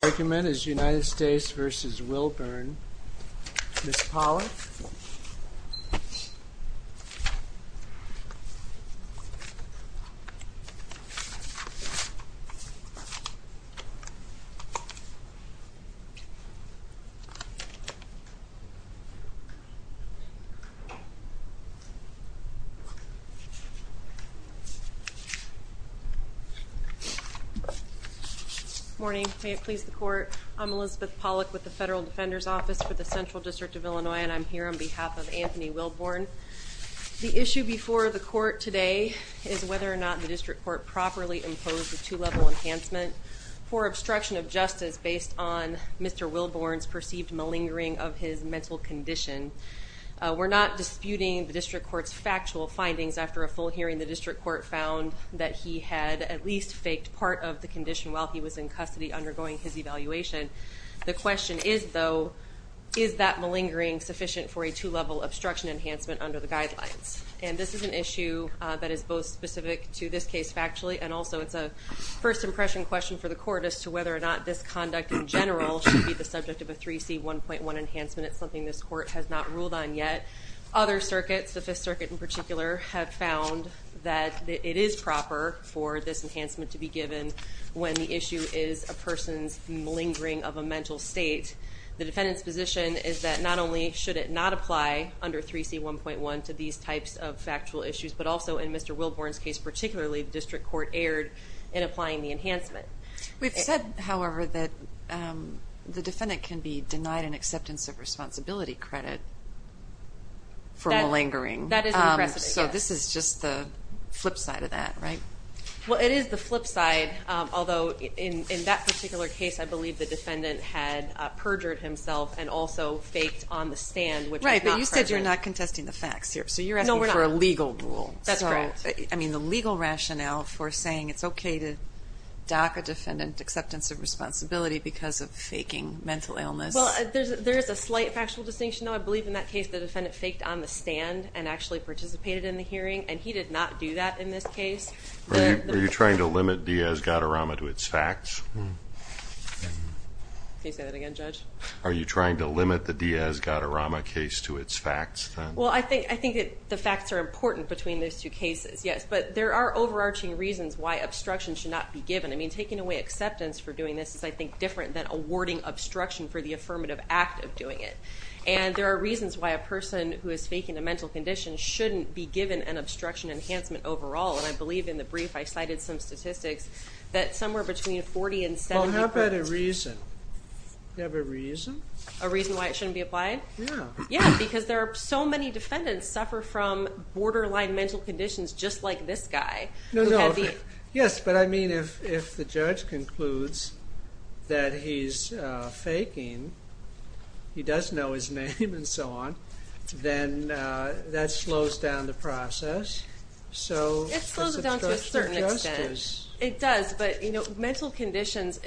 The argument is United States v. Wilbourn. Ms. Pollack? Good morning. May it please the court, I'm Elizabeth Pollack with the Federal Defender's Court of the Central District of Illinois, and I'm here on behalf of Anthony Wilbourn. The issue before the court today is whether or not the district court properly imposed a two-level enhancement for obstruction of justice based on Mr. Wilbourn's perceived malingering of his mental condition. We're not disputing the district court's factual findings. After a full hearing, the district court found that he had at least faked part of the condition while he was in custody undergoing his evaluation. The question is, though, is that malingering sufficient for a two-level obstruction enhancement under the guidelines? And this is an issue that is both specific to this case factually, and also it's a first impression question for the court as to whether or not this conduct in general should be the subject of a 3C1.1 enhancement. It's something this court has not ruled on yet. Other circuits, the Fifth Circuit in particular, have found that it is proper for this enhancement to be given when the issue is a person's malingering of a mental state. The defendant's position is that not only should it not apply under 3C1.1 to these types of factual issues, but also in Mr. Wilbourn's case particularly, the district court erred in applying the enhancement. We've said, however, that the defendant can be denied an acceptance of responsibility credit for malingering. That is impressive, yes. So this is just the It is the flip side, although in that particular case, I believe the defendant had perjured himself and also faked on the stand, which is not perjured. Right, but you said you're not contesting the facts here. So you're asking for a legal rule. That's correct. So, I mean, the legal rationale for saying it's okay to dock a defendant's acceptance of responsibility because of faking mental illness. Well, there's a slight factual distinction. I believe in that case the defendant faked on the stand and actually participated in the hearing, and he did not do that in this case. Are you trying to limit Diaz-Gadarama to its facts? Can you say that again, Judge? Are you trying to limit the Diaz-Gadarama case to its facts? Well, I think the facts are important between those two cases, yes. But there are overarching reasons why obstruction should not be given. I mean, taking away acceptance for doing this is, I think, different than awarding obstruction for the affirmative act of doing it. And there are reasons why a person who is faking a mental condition shouldn't be given an obstruction enhancement overall. And I believe in the brief I cited some statistics that somewhere between 40 and 70 percent... Well, how about a reason? Do you have a reason? A reason why it shouldn't be applied? Yeah. Yeah, because there are so many defendants suffer from borderline mental conditions just like this guy. No, no. Yes, but I mean, if the judge concludes that he's faking, he does know his name and so on, then that slows down the process. It slows it down to a certain extent. It does, but mental conditions,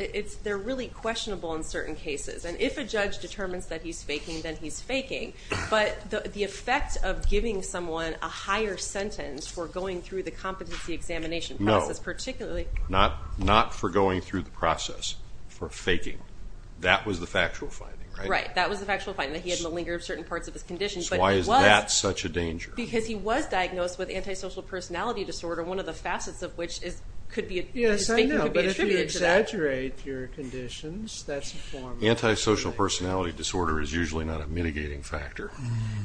they're really questionable in certain cases. And if a judge determines that he's faking, then he's faking. But the effect of giving someone a higher sentence for going through the competency examination process, particularly... No, not for going through the process, for faking. That was the factual finding, right? So why is that such a danger? Because he was diagnosed with antisocial personality disorder, one of the facets of which could Yes, I know, but if you exaggerate your conditions, that's a form of... Antisocial personality disorder is usually not a mitigating factor.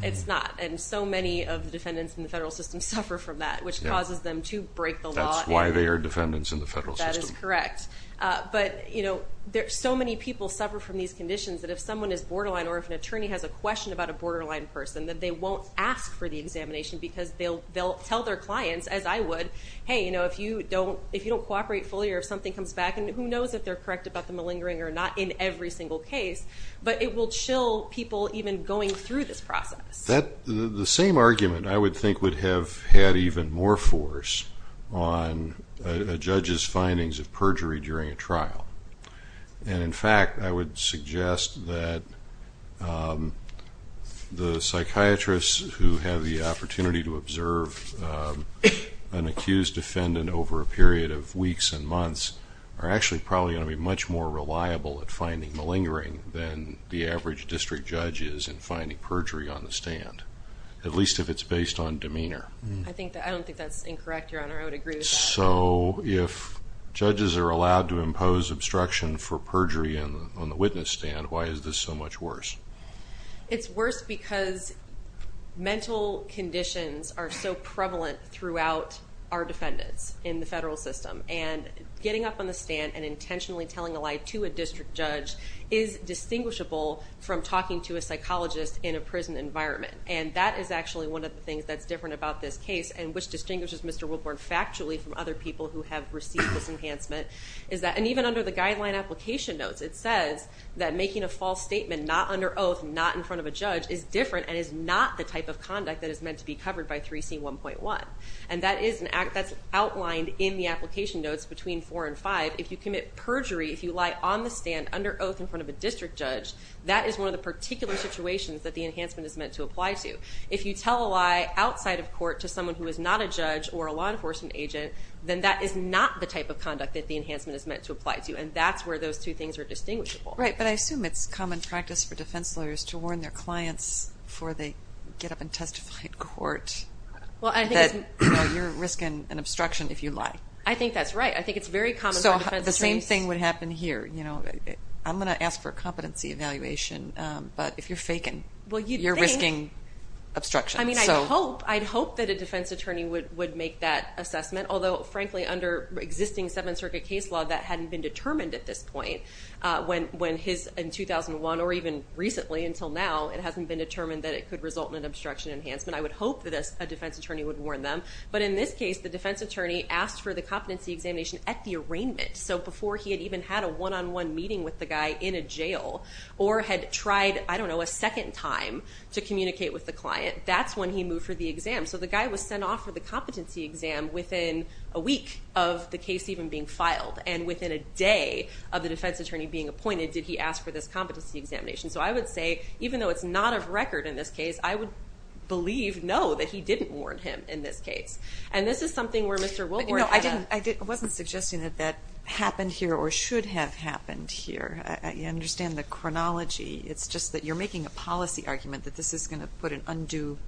It's not, and so many of the defendants in the federal system suffer from that, which causes them to break the law. That's why they are defendants in the federal system. That is correct. But, you know, so many people suffer from these conditions that if someone is borderline, or if an attorney has a question about a borderline person, that they won't ask for the examination because they'll tell their clients, as I would, hey, you know, if you don't cooperate fully or if something comes back, and who knows if they're correct about the malingering or not in every single case, but it will chill people even going through this process. The same argument, I would think, would have had even more force on a judge's findings of perjury during a trial, and in fact, I would suggest that the psychiatrists who have the opportunity to observe an accused defendant over a period of weeks and months are actually probably going to be much more reliable at finding malingering than the average district judge is in finding perjury on the stand, at least if it's based on demeanor. I don't think that's incorrect, Your Honor. I would agree with that. So if judges are allowed to impose obstruction for perjury on the witness stand, why is this so much worse? It's worse because mental conditions are so prevalent throughout our defendants in the federal system, and getting up on the stand and intentionally telling a lie to a district judge is distinguishable from talking to a psychologist in a prison environment, and that is actually one of the things that's different about this case and which distinguishes Mr. Woodward factually from other people who have received this enhancement, is that, and even under the guideline application notes, it says that making a false statement not under oath, not in front of a judge, is different and is not the type of conduct that is meant to be covered by 3C1.1, and that's outlined in the application notes between 4 and 5. If you commit perjury, if you lie on the stand under oath in front of a district judge, that is one of the particular situations that the enhancement is meant to apply to. If you tell a lie outside of court to someone who is not a judge or a law enforcement agent, then that is not the type of conduct that the enhancement is meant to apply to, and that's where those two things are distinguishable. Right, but I assume it's common practice for defense lawyers to warn their clients before they get up and testify in court that you're risking an obstruction if you lie. I think that's right. I think it's very common for defense attorneys. So the same thing would happen here. You know, I'm going to ask for a competency evaluation, but if you're faking, you're risking obstruction. I mean, I hope, I'd hope that a defense attorney would make that assessment, although frankly under existing Seventh Circuit case law, that hadn't been determined at this point. When his, in 2001, or even recently until now, it hasn't been determined that it could result in an obstruction enhancement. I would hope that a defense attorney would warn them, but in this case, the defense attorney asked for the competency examination at the arraignment. So before he had even had a one-on-one meeting with the guy in a jail, or had tried, I don't to communicate with the client. That's when he moved for the exam. So the guy was sent off for the competency exam within a week of the case even being filed. And within a day of the defense attorney being appointed, did he ask for this competency examination. So I would say, even though it's not of record in this case, I would believe, no, that he didn't warn him in this case. And this is something where Mr. Wilbourn had a- You know, I didn't, I wasn't suggesting that that happened here or should have happened here. I understand the chronology. It's just that you're making a policy argument that this is going to put an undue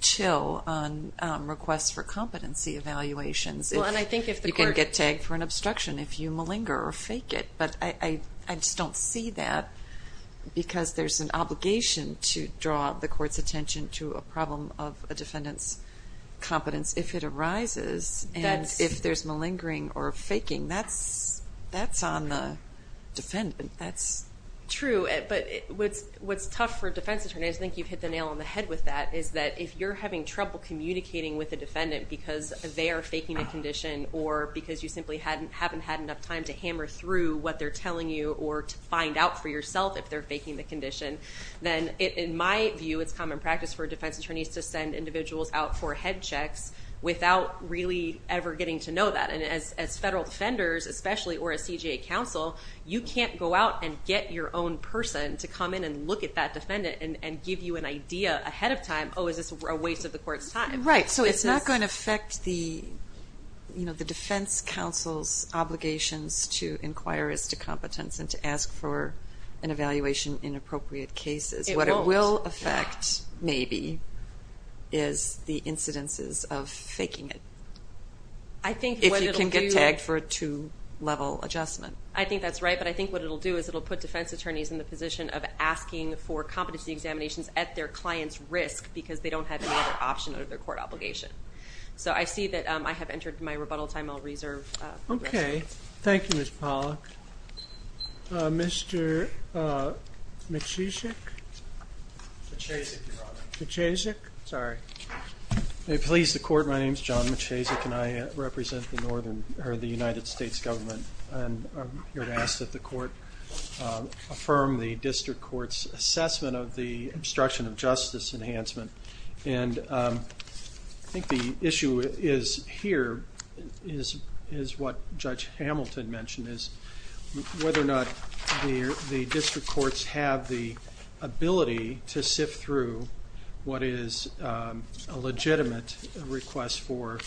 chill on requests for competency evaluations. Well, and I think if the court- You can get tagged for an obstruction if you malinger or fake it. But I just don't see that because there's an obligation to draw the court's attention to a problem of a defendant's competence if it arises. And if there's malingering or faking, that's on the defendant. That's- What's tough for defense attorneys, I think you've hit the nail on the head with that, is that if you're having trouble communicating with a defendant because they are faking a condition or because you simply haven't had enough time to hammer through what they're telling you or to find out for yourself if they're faking the condition, then in my view, it's common practice for defense attorneys to send individuals out for head checks without really ever getting to know that. And as federal defenders, especially, or a CJA counsel, you can't go out and get your own person to come in and look at that defendant and give you an idea ahead of time, oh, is this a waste of the court's time. Right. So it's not going to affect the defense counsel's obligations to inquire as to competence and to ask for an evaluation in appropriate cases. What it will affect, maybe, is the incidences of faking it. I think what it'll do- If you can get tagged for a two-level adjustment. I think that's right. But I think what it'll do is it'll put defense attorneys in the position of asking for competency examinations at their client's risk because they don't have any other option out of their court obligation. So I see that I have entered my rebuttal time. I'll reserve- Okay. Thank you, Ms. Pollack. Mr. McChesick? McChesick, Your Honor. McChesick? Sorry. May it please the court, my name is John McChesick and I represent the United States Government and I'm here to ask that the court affirm the district court's assessment of the obstruction of justice enhancement. And I think the issue here is what Judge Hamilton mentioned is whether or not the district courts have the ability to sift through what is a legitimate request for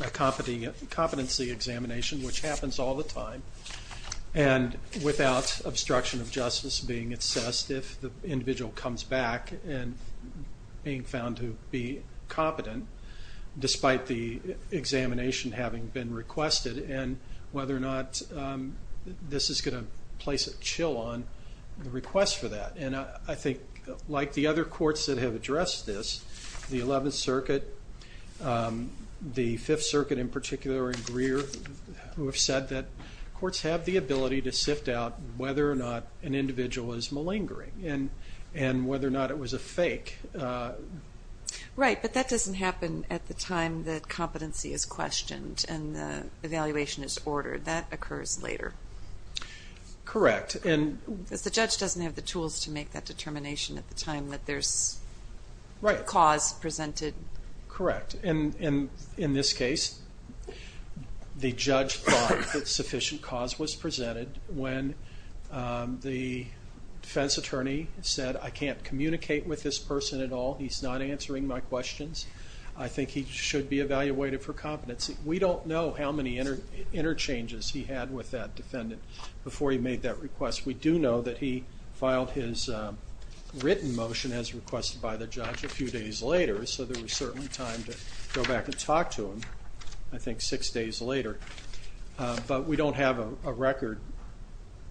a competency examination, which happens all the time, and without obstruction of justice being assessed if the individual comes back and being found to be competent despite the examination having been requested and whether or not this is going to place a chill on the request for that. And I think like the other courts that have addressed this, the 11th Circuit, the Fifth Circuit, who have said that courts have the ability to sift out whether or not an individual is malingering and whether or not it was a fake. Right, but that doesn't happen at the time that competency is questioned and the evaluation is ordered. That occurs later. Correct. Because the judge doesn't have the tools to make that determination at the time that there's cause presented. Correct. And in this case, the judge thought that sufficient cause was presented when the defense attorney said I can't communicate with this person at all, he's not answering my questions. I think he should be evaluated for competency. We don't know how many interchanges he had with that defendant before he made that request. We do know that he filed his written motion as requested by the judge a few days later, so there was certainly time to go back and talk to him, I think six days later. But we don't have a record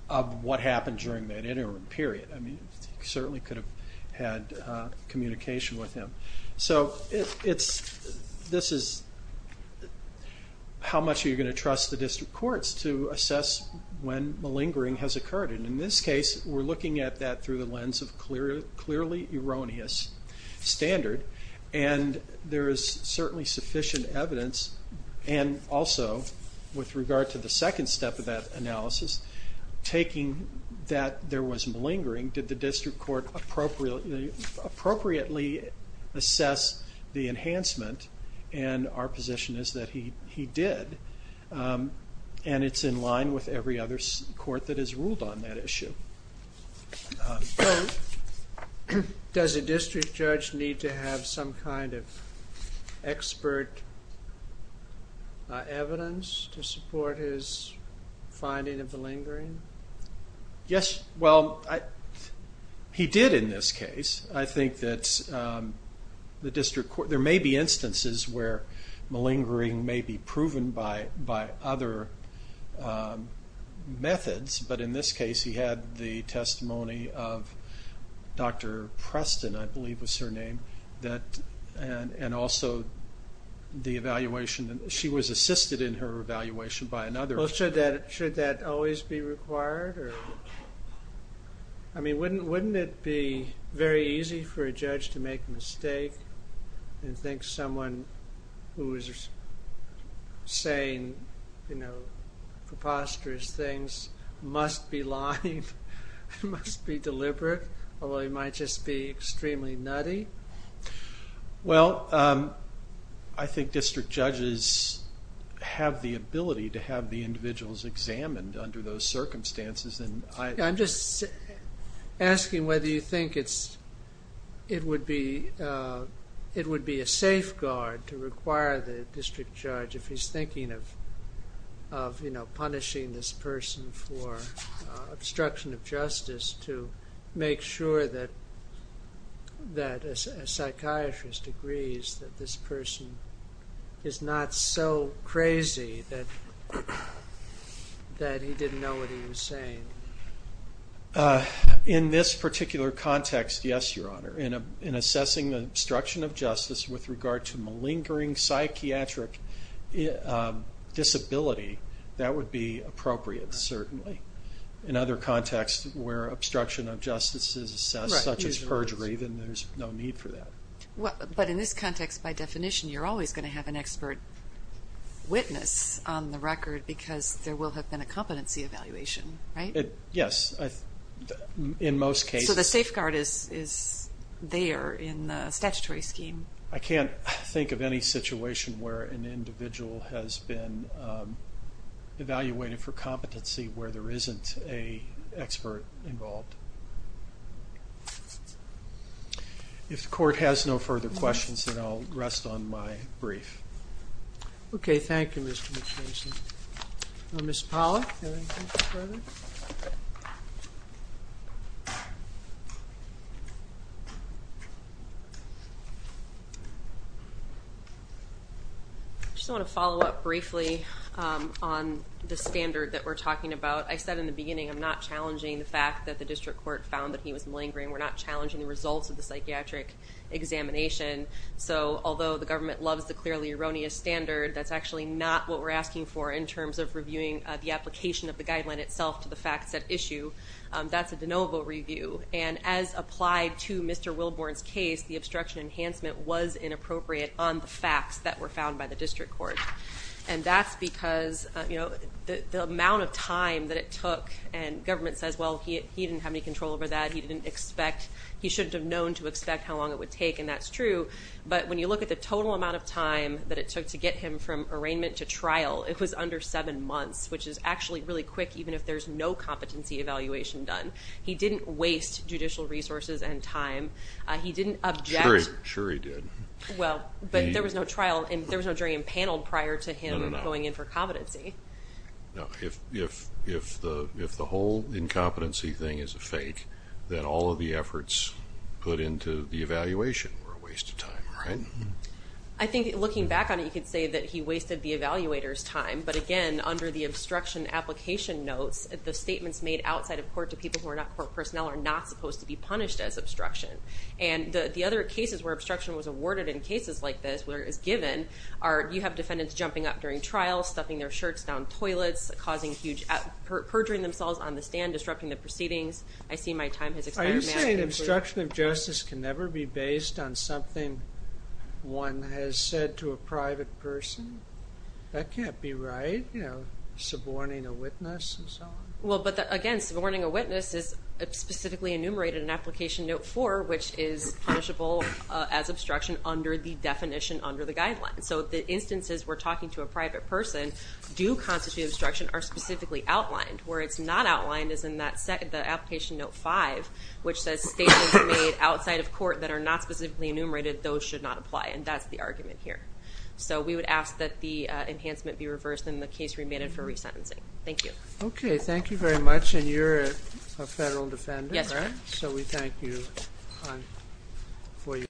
of what happened during that interim period. I mean, certainly could have had communication with him. So this is how much are you going to trust the district courts to assess when malingering has occurred. And in this case, we're looking at that through the lens of clearly erroneous standard and there is certainly sufficient evidence and also with regard to the second step of that analysis, taking that there was malingering, did the district court appropriately assess the enhancement and our position is that he did. And it's in line with every other court that has ruled on that issue. Does a district judge need to have some kind of expert evidence to support his finding of the malingering? Yes, well, he did in this case. I think that there may be instances where malingering may be proven by other methods, but in this case he had the testimony of Dr. Preston, I believe was her name, and also the evaluation. She was assisted in her evaluation by another. Should that always be required? I mean, wouldn't it be very easy for a judge to make a mistake and think someone who is saying preposterous things must be lying, must be deliberate, or they might just be extremely nutty? Well, I think district judges have the ability to have the individuals examined under those circumstances. I'm just asking whether you think it would be a safeguard to require the district judge, if he's thinking of punishing this person for obstruction of justice, to make sure that a psychiatrist agrees that this person is not so crazy that he didn't know what he was saying. In this particular context, yes, Your Honor. In assessing the obstruction of justice with regard to malingering psychiatric disability, that would be appropriate, certainly. In other contexts where obstruction of justice is assessed, such as perjury, then there's no need for that. But in this context, by definition, you're always going to have an expert witness on the record because there will have been a competency evaluation, right? Yes. In most cases. So the safeguard is there in the statutory scheme. I can't think of any situation where an individual has been evaluated for competency where there isn't an expert involved. If the court has no further questions, then I'll rest on my brief. Okay. Thank you, Mr. McPherson. Ms. Pollack, do you have anything further? I just want to follow up briefly on the standard that we're talking about. I said in the beginning I'm not challenging the fact that the district court found that he was malingering. We're not challenging the results of the psychiatric examination. So although the government loves the clearly erroneous standard, that's actually not what we're asking for in terms of reviewing the application of the guideline itself to the facts at issue. That's a de novo review. And as applied to Mr. Wilborn's case, the obstruction enhancement was inappropriate on the facts that were found by the district court. And that's because, you know, the amount of time that it took, and government says, well, he didn't have any control over that, he didn't expect, he shouldn't have known to expect how long it would take, and that's true, but when you look at the total amount of time that it took to get him from arraignment to trial, it was under seven months, which is actually really quick even if there's no competency evaluation done. He didn't waste judicial resources and time. He didn't object. Sure he did. Well, but there was no trial, and there was no jury impaneled prior to him going in for competency. No, if the whole incompetency thing is a fake, then all of the efforts put into the evaluation were a waste of time, right? I think looking back on it, you could say that he wasted the evaluator's time, but again, under the obstruction application notes, the statements made outside of court to people who are not court personnel are not supposed to be punished as obstruction. And the other cases where obstruction was awarded in cases like this where it's given are you have defendants jumping up during trial, stuffing their shirts down toilets, perjuring themselves on the stand, disrupting the proceedings. I see my time has expired. Are you saying obstruction of justice can never be based on something one has said to a private person? That can't be right, you know, suborning a witness and so on. Well, but again, suborning a witness is specifically enumerated in application note four, which is punishable as obstruction under the definition under the guidelines. So the instances we're talking to a private person do constitute obstruction are specifically outlined. Where it's not outlined is in the application note five, which says statements made outside of court that are not specifically enumerated, those should not apply, and that's the argument here. So we would ask that the enhancement be reversed and the case remanded for resentencing. Thank you. Okay. Thank you very much. And you're a federal defendant, right? Yes, sir. So we thank you for your time.